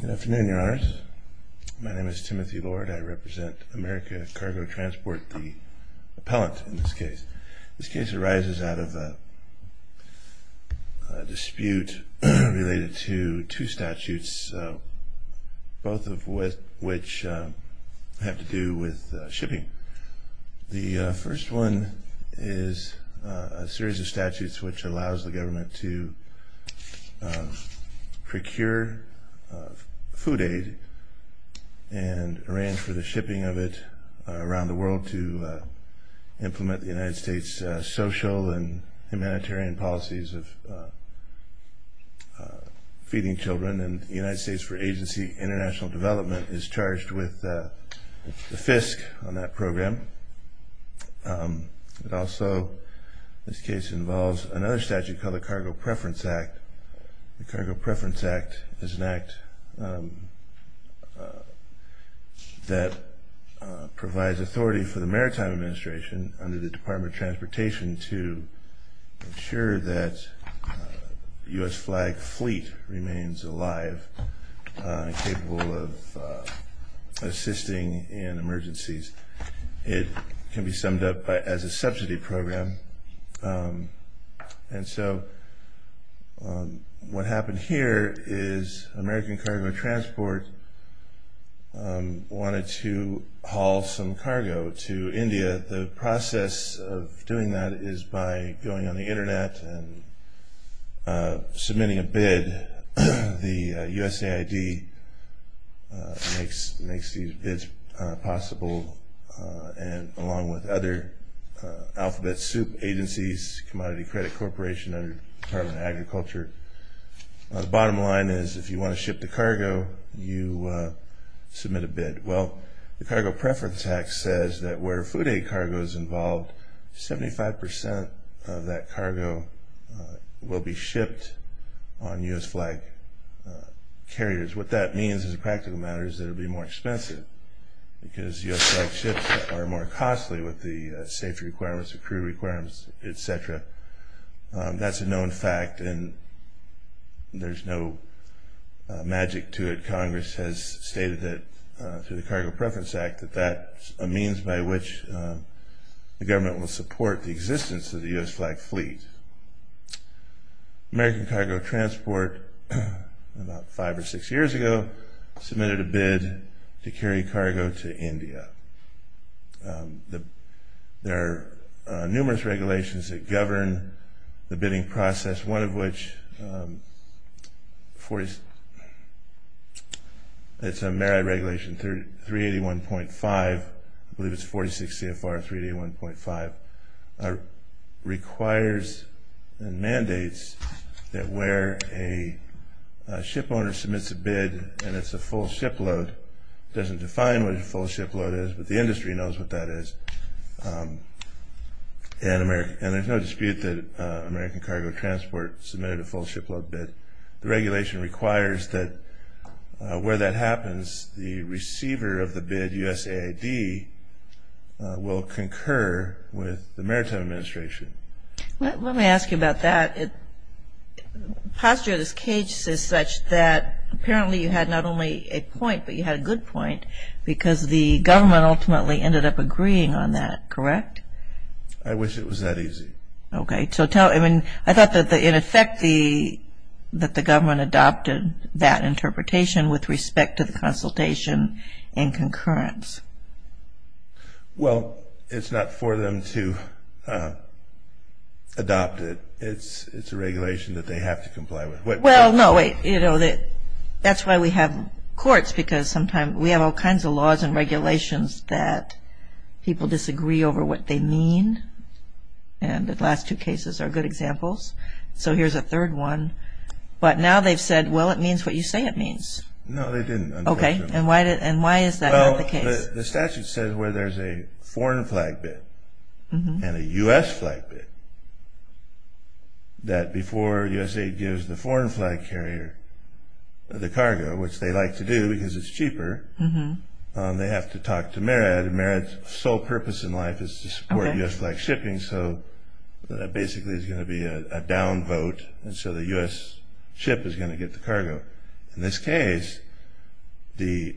Good afternoon, Your Honors. My name is Timothy Lord. I represent America Cargo Transport, the appellant in this case. This case arises out of a dispute related to two statutes, both of which have to do with shipping. The first one is a series of statutes which allows the government to procure food aid and arrange for the shipping of it around the world to implement the United States social and humanitarian policies of feeding children. The Department of the United States for Agency International Development is charged with the FISC on that program. It also, this case involves another statute called the Cargo Preference Act. The Cargo Preference Act is an act that provides authority for the Maritime Administration under the Department of Transportation to ensure that the U.S. flag fleet remains alive and capable of assisting in emergencies. It can be summed up as a subsidy program. And so what happened here is American Cargo Transport wanted to haul some cargo to India. The process of doing that is by going on the Internet and submitting a bid. The USAID makes these bids possible along with other alphabet soup agencies, Commodity Credit Corporation and the Department of Agriculture. The bottom line is if you want to ship the cargo, you submit a bid. Well, the Cargo Preference Act says that where food aid cargo is involved, 75% of that cargo will be shipped on U.S. flag carriers. What that means as a practical matter is that it will be more expensive because U.S. flag ships are more costly with the safety requirements, the crew requirements, etc. That's a known fact and there's no magic to it. Congress has stated through the Cargo Preference Act that that's a means by which the government will support the existence of the U.S. flag fleet. American Cargo Transport about five or six years ago submitted a bid to carry cargo to India. There are numerous regulations that govern the bidding process, one of which is a merit regulation 381.5, I believe it's 46 CFR 381.5, requires and mandates that where a ship owner submits a bid and it's a full ship load, it doesn't define what a full ship load is, but the industry knows what that is. And there's no dispute that American Cargo Transport submitted a full ship load bid. The regulation requires that where that happens, the receiver of the bid, USAID, will concur with the maritime administration. Let me ask you about that. Postulate is caged as such that apparently you had not only a point, but you had a good point, because the government ultimately ended up agreeing on that, correct? I wish it was that easy. Okay. So I thought that in effect that the government adopted that interpretation with respect to the consultation and concurrence. Well, it's not for them to adopt it. It's a regulation that they have to comply with. Well, no, wait, you know, that's why we have courts, because sometimes we have all kinds of laws and regulations that people disagree over what they mean, and the last two cases are good examples. So here's a third one. But now they've said, well, it means what you say it means. No, they didn't. Okay. And why is that not the case? Well, the statute says where there's a foreign flag bid and a U.S. flag bid that before USAID gives the foreign flag carrier the cargo, which they like to do because it's cheaper, they have to talk to MERAD, and MERAD's sole purpose in life is to support U.S. flag shipping, so basically there's going to be a down vote, and so the U.S. ship is going to get the cargo. In this case, the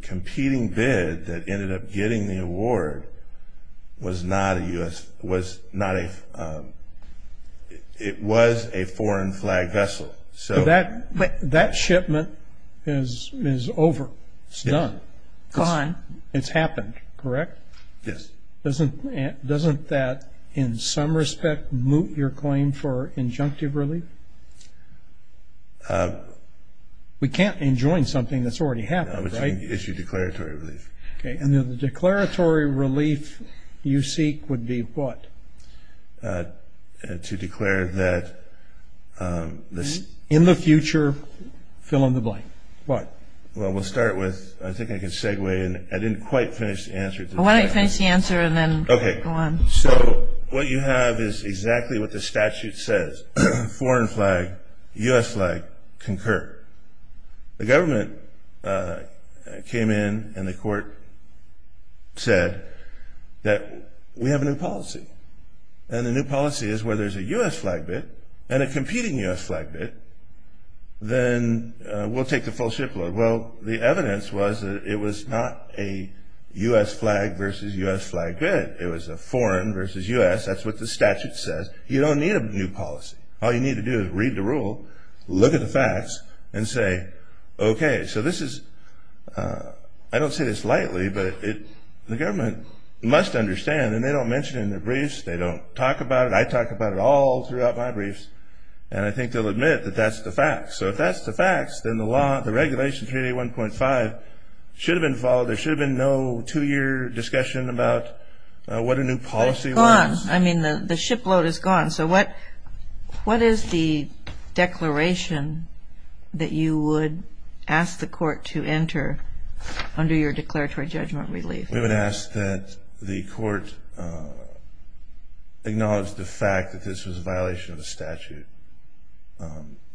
competing bid that ended up getting the award was not a U.S. It was a foreign flag vessel. So that shipment is over. It's done. It's gone. It's happened, correct? Yes. Doesn't that, in some respect, moot your claim for injunctive relief? We can't enjoin something that's already happened, right? No, but you can issue declaratory relief. Okay. And the declaratory relief you seek would be what? To declare that the ‑‑ In the future, fill in the blank. What? Well, we'll start with ‑‑ I think I can segue in. I didn't quite finish the answer to that. Why don't you finish the answer and then go on. Okay. So what you have is exactly what the statute says, foreign flag, U.S. flag, concur. The government came in and the court said that we have a new policy, and the new policy is where there's a U.S. flag bid and a competing U.S. flag bid, then we'll take the full ship load. Well, the evidence was that it was not a U.S. flag versus U.S. flag bid. It was a foreign versus U.S. That's what the statute says. You don't need a new policy. All you need to do is read the rule, look at the facts, and say, okay, so this is ‑‑ I don't say this lightly, but the government must understand, and they don't mention it in their briefs, they don't talk about it. I talk about it all throughout my briefs, and I think they'll admit that that's the facts. So if that's the facts, then the regulation, 3A1.5, should have been followed. There should have been no two‑year discussion about what a new policy was. But it's gone. I mean, the ship load is gone. So what is the declaration that you would ask the court to enter under your declaratory judgment relief? We would ask that the court acknowledge the fact that this was a violation of the statute,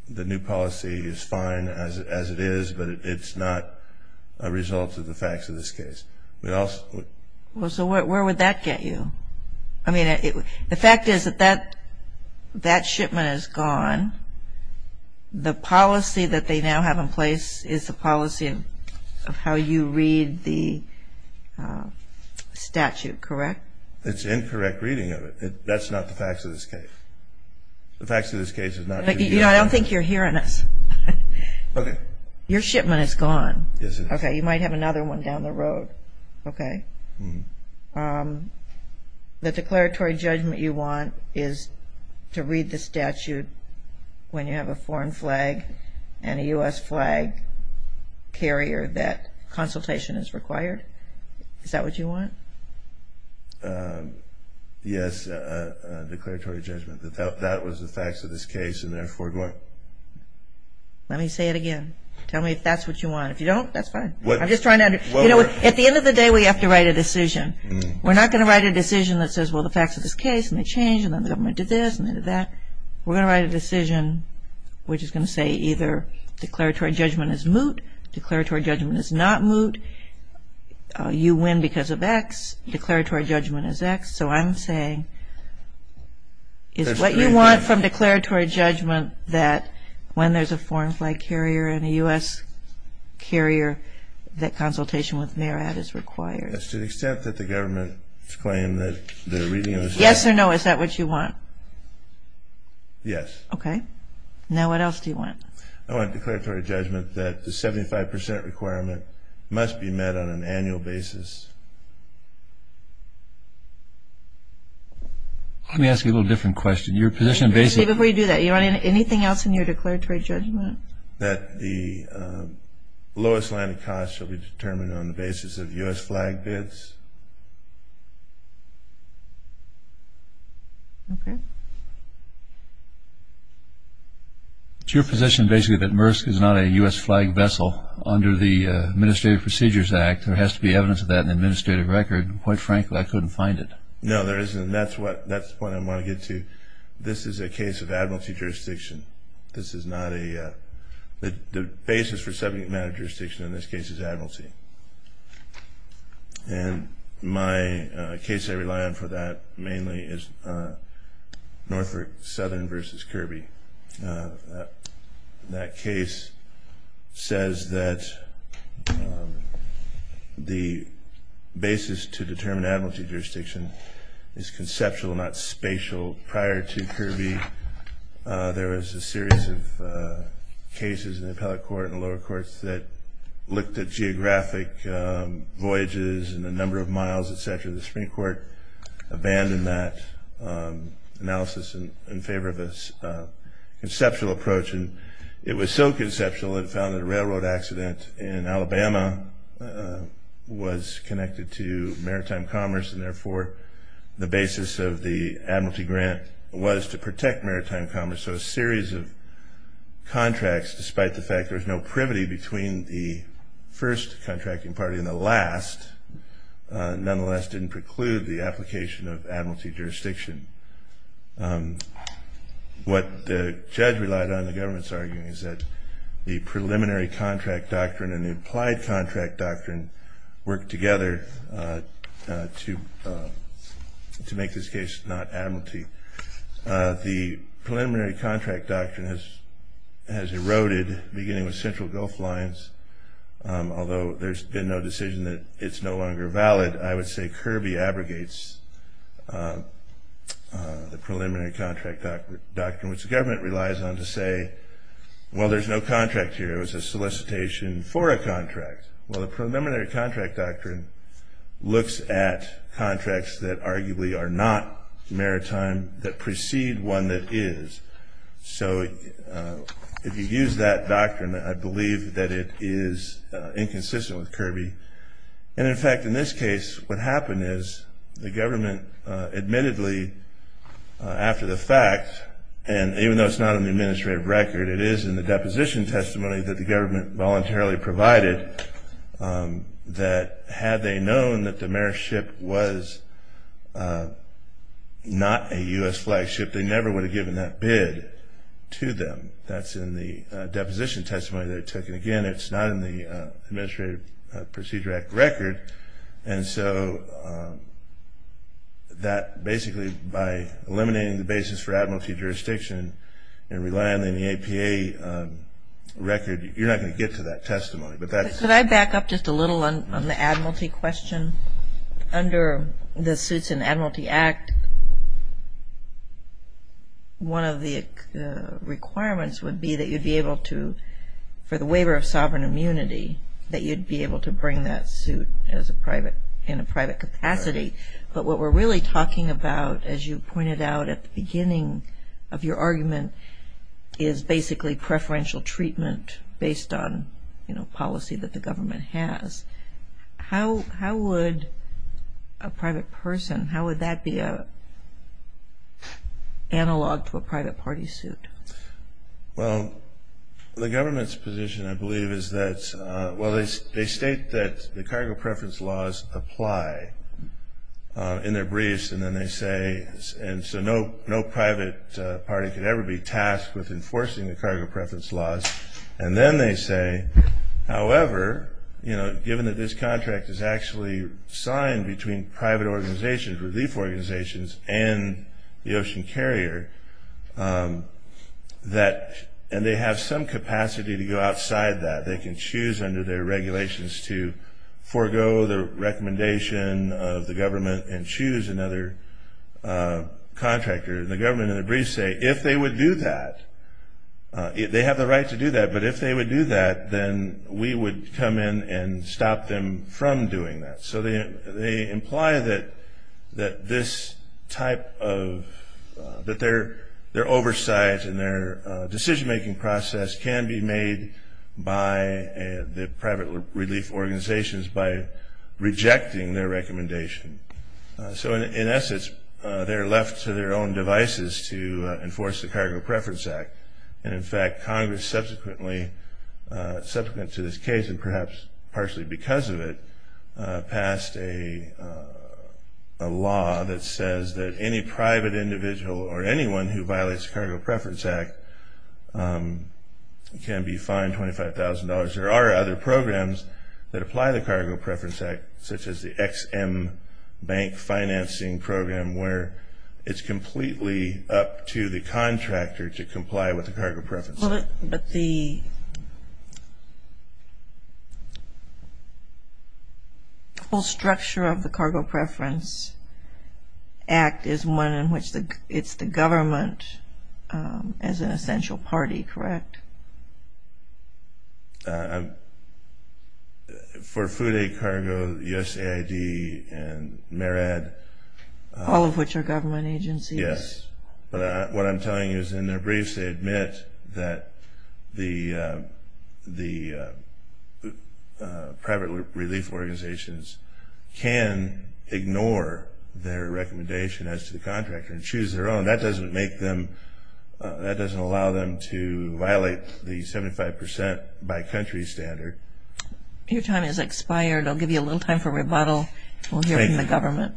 the new policy is fine as it is, but it's not a result of the facts of this case. We also ‑‑ Well, so where would that get you? I mean, the fact is that that shipment is gone. The policy that they now have in place is the policy of how you read the statute, correct? It's incorrect reading of it. That's not the facts of this case. The facts of this case is not the ‑‑ You know, I don't think you're hearing us. Okay. Your shipment is gone. Yes, it is. Okay, you might have another one down the road. Okay. The declaratory judgment you want is to read the statute when you have a foreign flag and a U.S. flag carrier that consultation is required? Is that what you want? Yes, declaratory judgment. That was the facts of this case and therefore it won't. Let me say it again. Tell me if that's what you want. If you don't, that's fine. I'm just trying to ‑‑ You know, at the end of the day, we have to write a decision. We're not going to write a decision that says, well, the facts of this case, and they changed, and then the government did this, and they did that. We're going to write a decision which is going to say either declaratory judgment is moot, declaratory judgment is not moot, you win because of X, declaratory judgment is X. So I'm saying is what you want from declaratory judgment that when there's a foreign flag carrier and a U.S. carrier that consultation with NARAD is required? That's to the extent that the government's claim that the reading of the statute ‑‑ Yes or no, is that what you want? Yes. Okay. Now what else do you want? I want declaratory judgment that the 75% requirement must be met on an annual basis. Let me ask you a little different question. Your position basically ‑‑ Before you do that, you want anything else in your declaratory judgment? That the lowest line of cost shall be determined on the basis of U.S. flag bids. Okay. It's your position basically that MRSC is not a U.S. flag vessel under the Administrative Procedures Act. There has to be evidence of that in the administrative record. Quite frankly, I couldn't find it. No, there isn't, and that's what I want to get to. This is a case of admiralty jurisdiction. This is not a ‑‑ the basis for subject matter jurisdiction in this case is admiralty. And my case I rely on for that mainly is Norfolk Southern v. Kirby. That case says that the basis to determine admiralty jurisdiction is conceptual, not spatial. Prior to Kirby, there was a series of cases in the appellate court and the lower courts that looked at geographic voyages and the number of miles, et cetera. The Supreme Court abandoned that analysis in favor of a conceptual approach. And it was so conceptual it found that a railroad accident in Alabama was connected to maritime commerce, and therefore the basis of the admiralty grant was to protect maritime commerce. So a series of contracts, despite the fact there was no privity between the first contracting party and the last, nonetheless didn't preclude the application of admiralty jurisdiction. What the judge relied on in the government's argument is that the preliminary contract doctrine and the applied contract doctrine work together to make this case not admiralty. The preliminary contract doctrine has eroded beginning with Central Gulf Lines. Although there's been no decision that it's no longer valid, I would say Kirby abrogates the preliminary contract doctrine, which the government relies on to say, well, there's no contract here. It was a solicitation for a contract. Well, the preliminary contract doctrine looks at contracts that arguably are not maritime, that precede one that is. So if you use that doctrine, I believe that it is inconsistent with Kirby. And, in fact, in this case what happened is the government admittedly, after the fact, and even though it's not in the administrative record, it is in the deposition testimony that the government voluntarily provided, that had they known that the maritime ship was not a U.S. flagship, they never would have given that bid to them. That's in the deposition testimony they took. And, again, it's not in the Administrative Procedure Act record. And so that basically, by eliminating the basis for admiralty jurisdiction and relying on the APA record, you're not going to get to that testimony. Could I back up just a little on the admiralty question? Under the Suits and Admiralty Act, one of the requirements would be that you'd be able to, for the waiver of sovereign immunity, that you'd be able to bring that suit in a private capacity. But what we're really talking about, as you pointed out at the beginning of your argument, is basically preferential treatment based on policy that the government has. How would a private person, how would that be analog to a private party suit? Well, the government's position, I believe, is that, well, they state that the cargo preference laws apply in their briefs, and so no private party could ever be tasked with enforcing the cargo preference laws. And then they say, however, given that this contract is actually signed between private organizations, relief organizations, and the ocean carrier, and they have some capacity to go outside that, they can choose under their regulations to forego the recommendation of the government and choose another contractor. And the government in the briefs say, if they would do that, they have the right to do that, but if they would do that, then we would come in and stop them from doing that. So they imply that this type of, that their oversight and their decision-making process can be made by the private relief organizations by rejecting their recommendation. So in essence, they're left to their own devices to enforce the Cargo Preference Act. And in fact, Congress subsequently, subsequent to this case and perhaps partially because of it, passed a law that says that any private individual or anyone who violates the Cargo Preference Act can be fined $25,000. There are other programs that apply the Cargo Preference Act, such as the XM Bank Financing Program, where it's completely up to the contractor to comply with the Cargo Preference Act. Well, but the whole structure of the Cargo Preference Act is one in which it's the government as an essential party, correct? For Food Aid, Cargo, USAID, and MARAD. All of which are government agencies. Yes. But what I'm telling you is in their briefs, they admit that the private relief organizations can ignore their recommendation as to the contractor and choose their own. That doesn't make them, that doesn't allow them to violate the 75% by country standard. Your time has expired. I'll give you a little time for rebuttal. We'll hear from the government.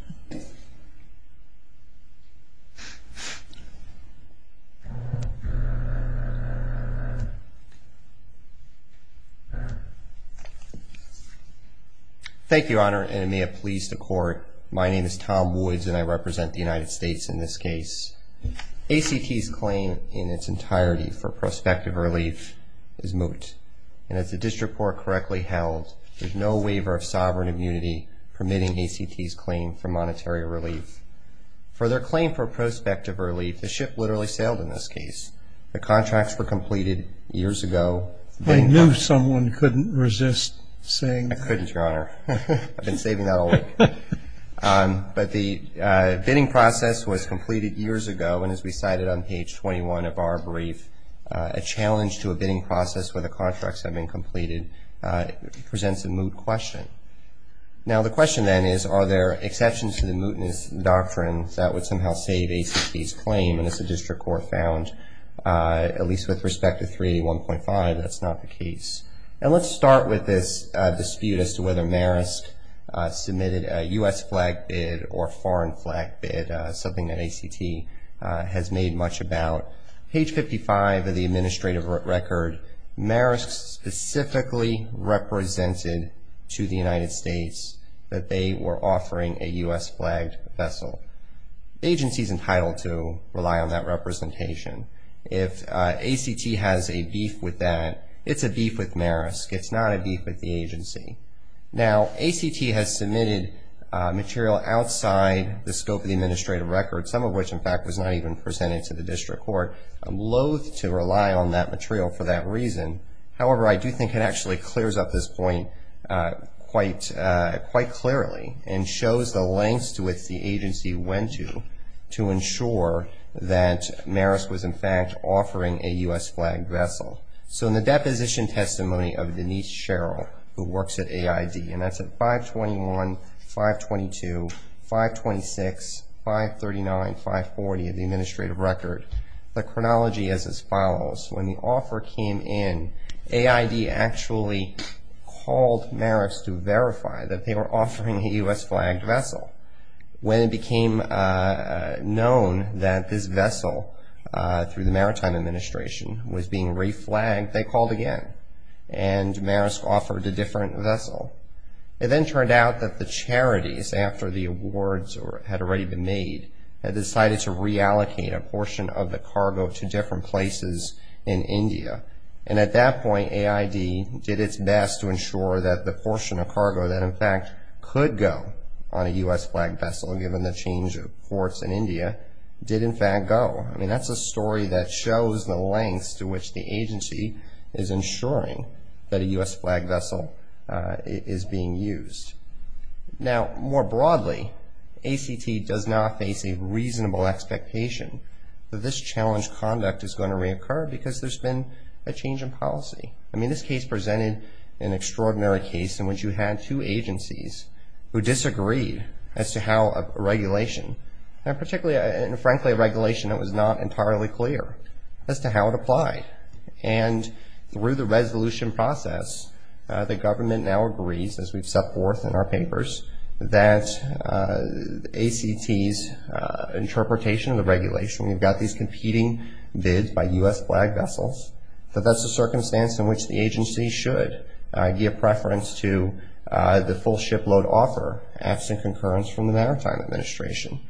Thank you, Your Honor, and it may have pleased the court. My name is Tom Woods and I represent the United States in this case. ACT's claim in its entirety for prospective relief is moot. And as the district court correctly held, there's no waiver of sovereign immunity permitting ACT's claim for monetary relief. For their claim for prospective relief, the ship literally sailed in this case. The contracts were completed years ago. I knew someone couldn't resist saying that. I couldn't, Your Honor. I've been saving that all week. But the bidding process was completed years ago, and as we cited on page 21 of our brief, a challenge to a bidding process where the contracts have been completed presents a moot question. Now the question then is, are there exceptions to the mootness doctrine that would somehow save ACT's claim? And as the district court found, at least with respect to 381.5, that's not the case. And let's start with this dispute as to whether Marisk submitted a U.S. flag bid or foreign flag bid, something that ACT has made much about. Page 55 of the administrative record, Marisk specifically represented to the United States that they were offering a U.S. flagged vessel. The agency is entitled to rely on that representation. If ACT has a beef with that, it's a beef with Marisk. It's not a beef with the agency. Now, ACT has submitted material outside the scope of the administrative record, some of which, in fact, was not even presented to the district court. I'm loathe to rely on that material for that reason. However, I do think it actually clears up this point quite clearly and shows the lengths to which the agency went to to ensure that Marisk was, in fact, offering a U.S. flagged vessel. So in the deposition testimony of Denise Sherrill, who works at AID, and that's at 521, 522, 526, 539, 540 of the administrative record, the chronology is as follows. When the offer came in, AID actually called Marisk to verify that they were offering a U.S. flagged vessel. When it became known that this vessel through the Maritime Administration was being re-flagged, they called again, and Marisk offered a different vessel. It then turned out that the charities, after the awards had already been made, had decided to reallocate a portion of the cargo to different places in India. And at that point, AID did its best to ensure that the portion of cargo that, in fact, could go on a U.S. flagged vessel, given the change of courts in India, did, in fact, go. I mean, that's a story that shows the lengths to which the agency is ensuring that a U.S. flagged vessel is being used. Now, more broadly, ACT does not face a reasonable expectation that this challenge conduct is going to reoccur because there's been a change in policy. I mean, this case presented an extraordinary case in which you had two agencies who disagreed as to how a regulation, and frankly, a regulation that was not entirely clear, as to how it applied. And through the resolution process, the government now agrees, as we've set forth in our papers, that ACT's interpretation of the regulation, we've got these competing bids by U.S. flagged vessels, that that's a circumstance in which the agency should give preference to the full shipload offer, absent concurrence from the Maritime Administration.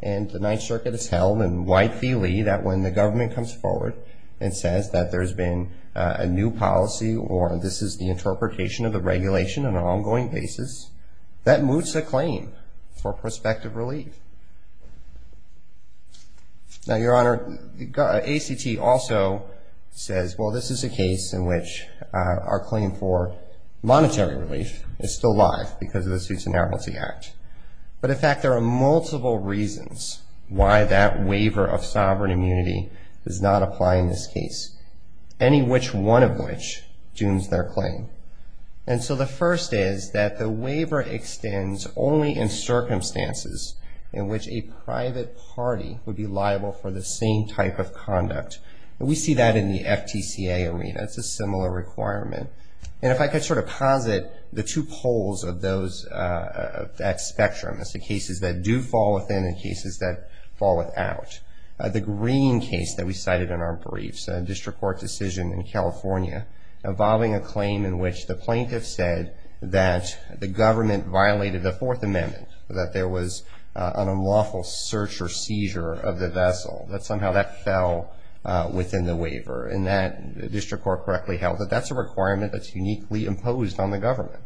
And the Ninth Circuit has held in wide feely that when the government comes forward and says that there's been a new policy or this is the interpretation of the regulation on an ongoing basis, that moots a claim for prospective relief. Now, Your Honor, ACT also says, well, this is a case in which our claim for monetary relief is still live because of the Suits and Appellate Act. But in fact, there are multiple reasons why that waiver of sovereign immunity does not apply in this case, any which one of which dooms their claim. And so the first is that the waiver extends only in circumstances in which a private party would be liable for the same type of conduct. And we see that in the FTCA arena. It's a similar requirement. And if I could sort of posit the two poles of that spectrum, it's the cases that do fall within and cases that fall without. The green case that we cited in our briefs, a district court decision in California involving a claim in which the plaintiff said that the government violated the Fourth Amendment, that there was an unlawful search or seizure of the vessel, that somehow that fell within the waiver and that the district court correctly held that that's a requirement that's uniquely imposed on the government.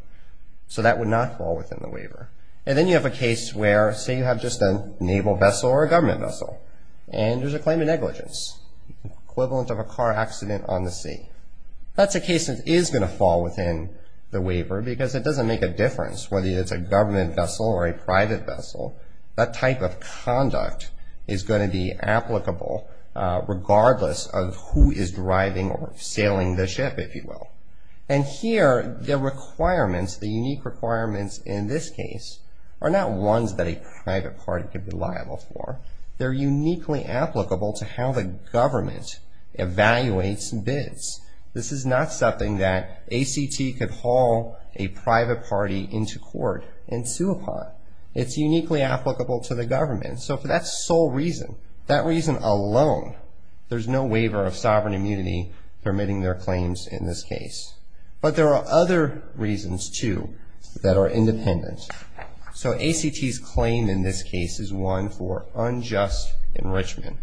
So that would not fall within the waiver. And then you have a case where, say, you have just a naval vessel or a government vessel, and there's a claim of negligence, equivalent of a car accident on the sea. That's a case that is going to fall within the waiver because it doesn't make a difference whether it's a government vessel or a private vessel. That type of conduct is going to be applicable regardless of who is driving or sailing the ship, if you will. And here the requirements, the unique requirements in this case, are not ones that a private party could be liable for. They're uniquely applicable to how the government evaluates bids. This is not something that ACT could haul a private party into court and sue upon. But it's uniquely applicable to the government. So for that sole reason, that reason alone, there's no waiver of sovereign immunity permitting their claims in this case. But there are other reasons, too, that are independent. So ACT's claim in this case is one for unjust enrichment.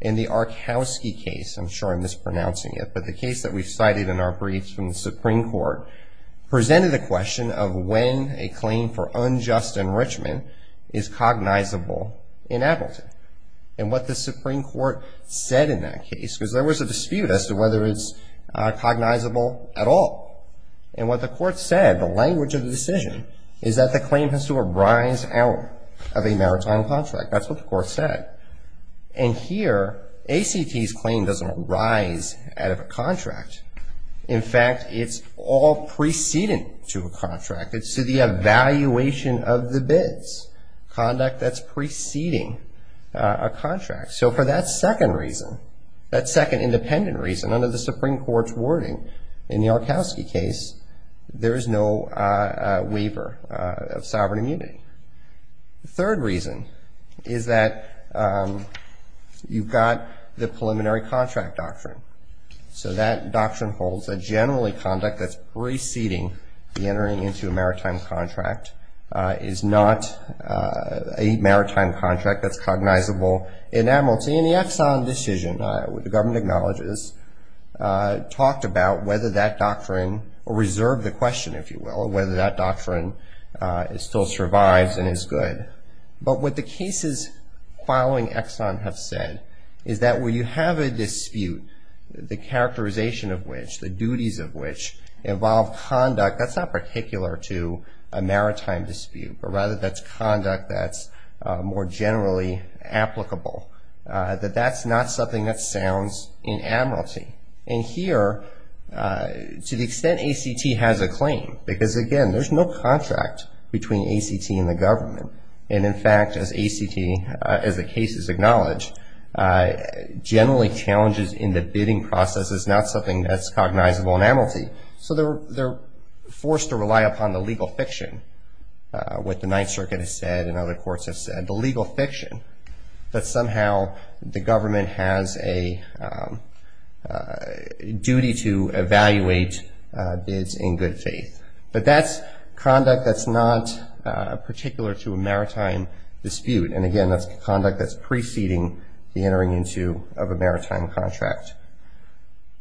In the Arkowski case, I'm sure I'm mispronouncing it, but the case that we've cited in our briefs from the Supreme Court, presented the question of when a claim for unjust enrichment is cognizable in Appleton. And what the Supreme Court said in that case, because there was a dispute as to whether it's cognizable at all. And what the court said, the language of the decision, is that the claim has to arise out of a maritime contract. That's what the court said. And here, ACT's claim doesn't arise out of a contract. In fact, it's all preceding to a contract. It's to the evaluation of the bids, conduct that's preceding a contract. So for that second reason, that second independent reason, under the Supreme Court's wording in the Arkowski case, there is no waiver of sovereign immunity. The third reason is that you've got the preliminary contract doctrine. So that doctrine holds that generally conduct that's preceding the entering into a maritime contract is not a maritime contract that's cognizable in Appleton. And the Exxon decision, the government acknowledges, talked about whether that doctrine, or reserved the question, if you will, whether that doctrine still survives and is good. But what the cases following Exxon have said is that when you have a dispute, the characterization of which, the duties of which involve conduct that's not particular to a maritime dispute, but rather that's conduct that's more generally applicable, that that's not something that sounds in admiralty. And here, to the extent ACT has a claim, because again, there's no contract between ACT and the government. And in fact, as ACT, as the cases acknowledge, generally challenges in the bidding process is not something that's cognizable in admiralty. So they're forced to rely upon the legal fiction, what the Ninth Circuit has said and other courts have said, the legal fiction, that somehow the government has a duty to evaluate bids in good faith. But that's conduct that's not particular to a maritime dispute. And again, that's conduct that's preceding the entering into of a maritime contract.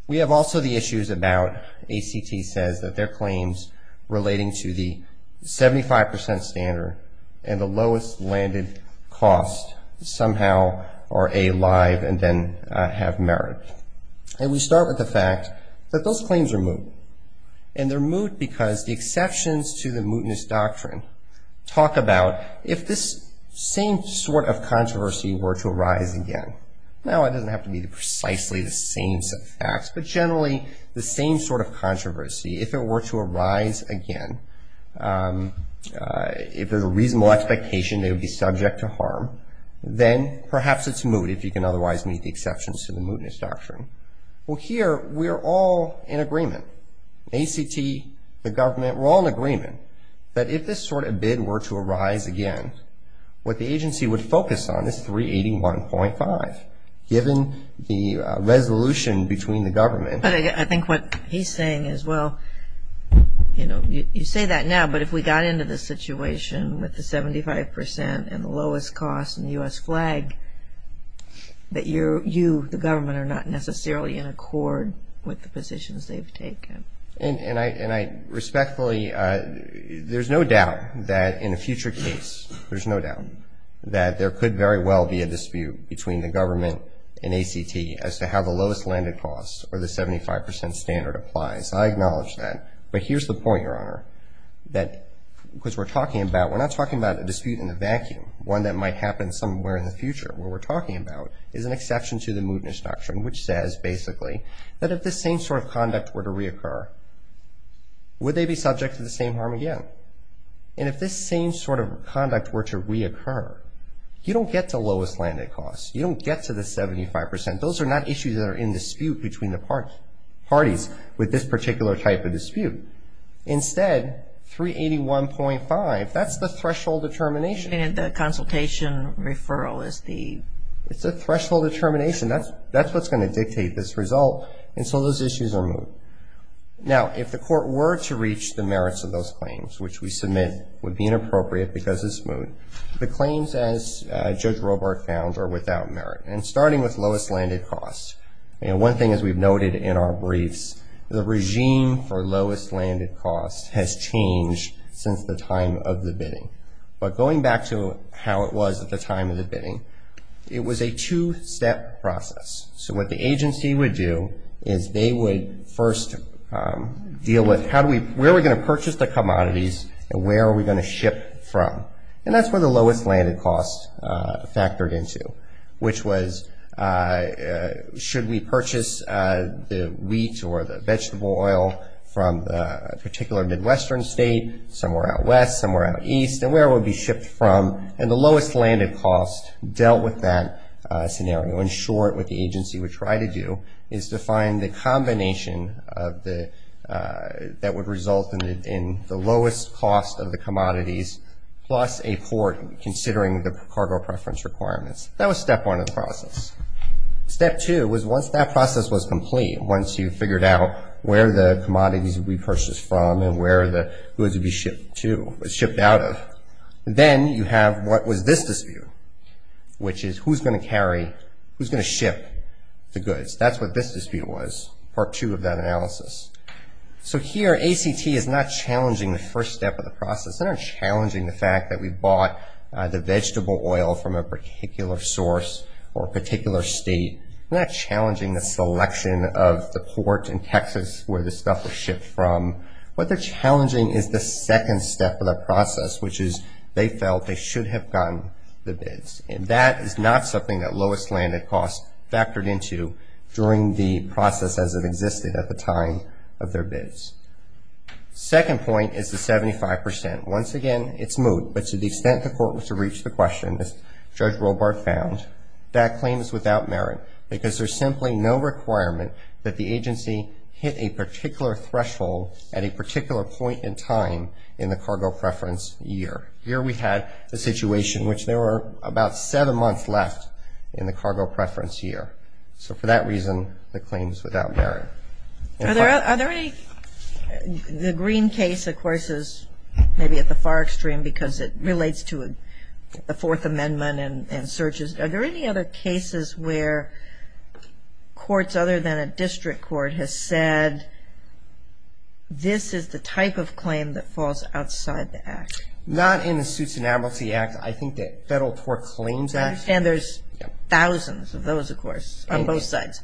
We have also the issues about, ACT says, that their claims relating to the 75 percent standard and the lowest landed cost somehow are a live and then have merit. And we start with the fact that those claims are moot. And they're moot because the exceptions to the mootness doctrine talk about if this same sort of controversy were to arise again. Now, it doesn't have to be precisely the same set of facts, but generally the same sort of controversy. If it were to arise again, if there's a reasonable expectation they would be subject to harm, then perhaps it's moot if you can otherwise meet the exceptions to the mootness doctrine. Well, here we're all in agreement. ACT, the government, we're all in agreement that if this sort of bid were to arise again, what the agency would focus on is 381.5, given the resolution between the government. I think what he's saying is, well, you know, you say that now, but if we got into this situation with the 75 percent and the lowest cost in the U.S. flag, that you, the government, are not necessarily in accord with the positions they've taken. And I respectfully, there's no doubt that in a future case, there's no doubt, that there could very well be a dispute between the government and ACT as to how the lowest landed cost or the 75 percent standard applies. I acknowledge that. But here's the point, Your Honor, that because we're talking about, we're not talking about a dispute in a vacuum, one that might happen somewhere in the future. What we're talking about is an exception to the mootness doctrine, which says, basically, that if this same sort of conduct were to reoccur, would they be subject to the same harm again? And if this same sort of conduct were to reoccur, you don't get the lowest landed cost. You don't get to the 75 percent. Those are not issues that are in dispute between the parties with this particular type of dispute. Instead, 381.5, that's the threshold determination. And the consultation referral is the... It's the threshold determination. That's what's going to dictate this result. And so those issues are moot. Now, if the court were to reach the merits of those claims, which we submit would be inappropriate because it's moot, the claims, as Judge Robart found, are without merit. And starting with lowest landed cost, one thing, as we've noted in our briefs, the regime for lowest landed cost has changed since the time of the bidding. But going back to how it was at the time of the bidding, it was a two-step process. So what the agency would do is they would first deal with where are we going to purchase the commodities and where are we going to ship from. And that's where the lowest landed cost factored into, which was should we purchase the wheat or the vegetable oil from a particular Midwestern state, somewhere out west, somewhere out east, and where it would be shipped from. And the lowest landed cost dealt with that scenario. In short, what the agency would try to do is to find the combination that would result in the lowest cost of the commodities plus a court considering the cargo preference requirements. That was step one of the process. Step two was once that process was complete, once you figured out where the commodities would be purchased from and where the goods would be shipped out of, then you have what was this dispute, which is who's going to carry, who's going to ship the goods. That's what this dispute was, part two of that analysis. So here, ACT is not challenging the first step of the process. They're not challenging the fact that we bought the vegetable oil from a particular source or a particular state. They're not challenging the selection of the port in Texas where the stuff was shipped from. What they're challenging is the second step of the process, which is they felt they should have gotten the bids. And that is not something that lowest landed cost factored into during the process as it existed at the time of their bids. Second point is the 75%. Once again, it's moot, but to the extent the court was to reach the question, as Judge Robart found, that claim is without merit because there's simply no requirement that the agency hit a particular threshold at a particular point in time in the cargo preference year. Here we had a situation in which there were about seven months left in the cargo preference year. So for that reason, the claim is without merit. Are there any, the green case, of course, is maybe at the far extreme because it relates to the Fourth Amendment and searches. Are there any other cases where courts other than a district court has said this is the type of claim that falls outside the Act? Not in the Suits and Amnesty Act. I think the Federal Tort Claims Act. And there's thousands of those, of course, on both sides.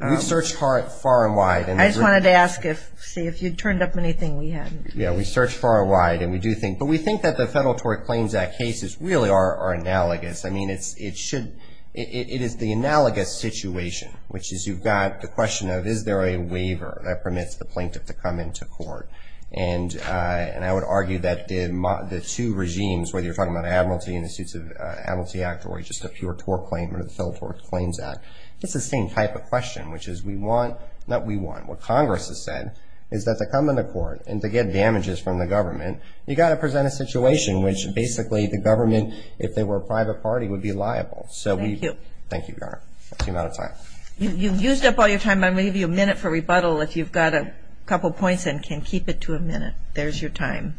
We've searched far and wide. I just wanted to ask if, see if you'd turned up anything we hadn't. Yeah, we searched far and wide and we do think, but we think that the Federal Tort Claims Act cases really are analogous. I mean, it's, it should, it is the analogous situation, which is you've got the question of, is there a waiver that permits the plaintiff to come into court? And I would argue that the two regimes, whether you're talking about Amnesty and the Suits of Amnesty Act or just a pure tort claim or the Federal Tort Claims Act, it's the same type of question, which is we want, not we want. What Congress has said is that to come into court and to get damages from the government, you've got to present a situation which basically the government, if they were a private party, would be liable. So we. Thank you. Thank you, Your Honor. I seem out of time. You've used up all your time. I'm going to give you a minute for rebuttal if you've got a couple points and can keep it to a minute. There's your time.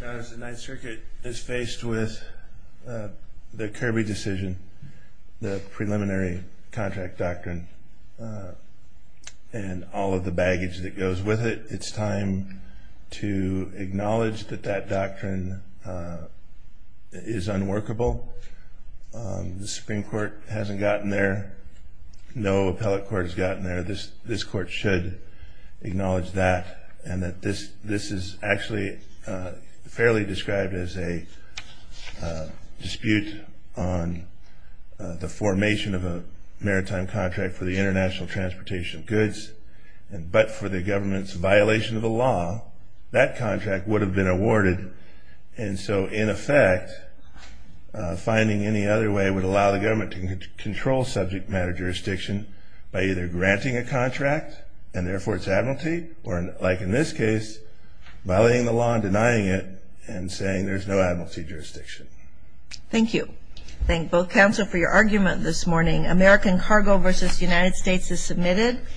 Your Honor, the Ninth Circuit is faced with the Kirby decision, the preliminary contract doctrine, and all of the baggage that goes with it. It's time to acknowledge that that doctrine is unworkable. The Supreme Court hasn't gotten there. No appellate court has gotten there. This Court should acknowledge that and that this is actually fairly described as a dispute on the formation of a maritime contract for the international transportation of goods, but for the government's violation of the law, that contract would have been awarded. And so, in effect, finding any other way would allow the government to control subject matter jurisdiction by either granting a contract and therefore its admiralty or, like in this case, violating the law and denying it and saying there's no admiralty jurisdiction. Thank you. Thank both counsel for your argument this morning. American Cargo v. United States is submitted.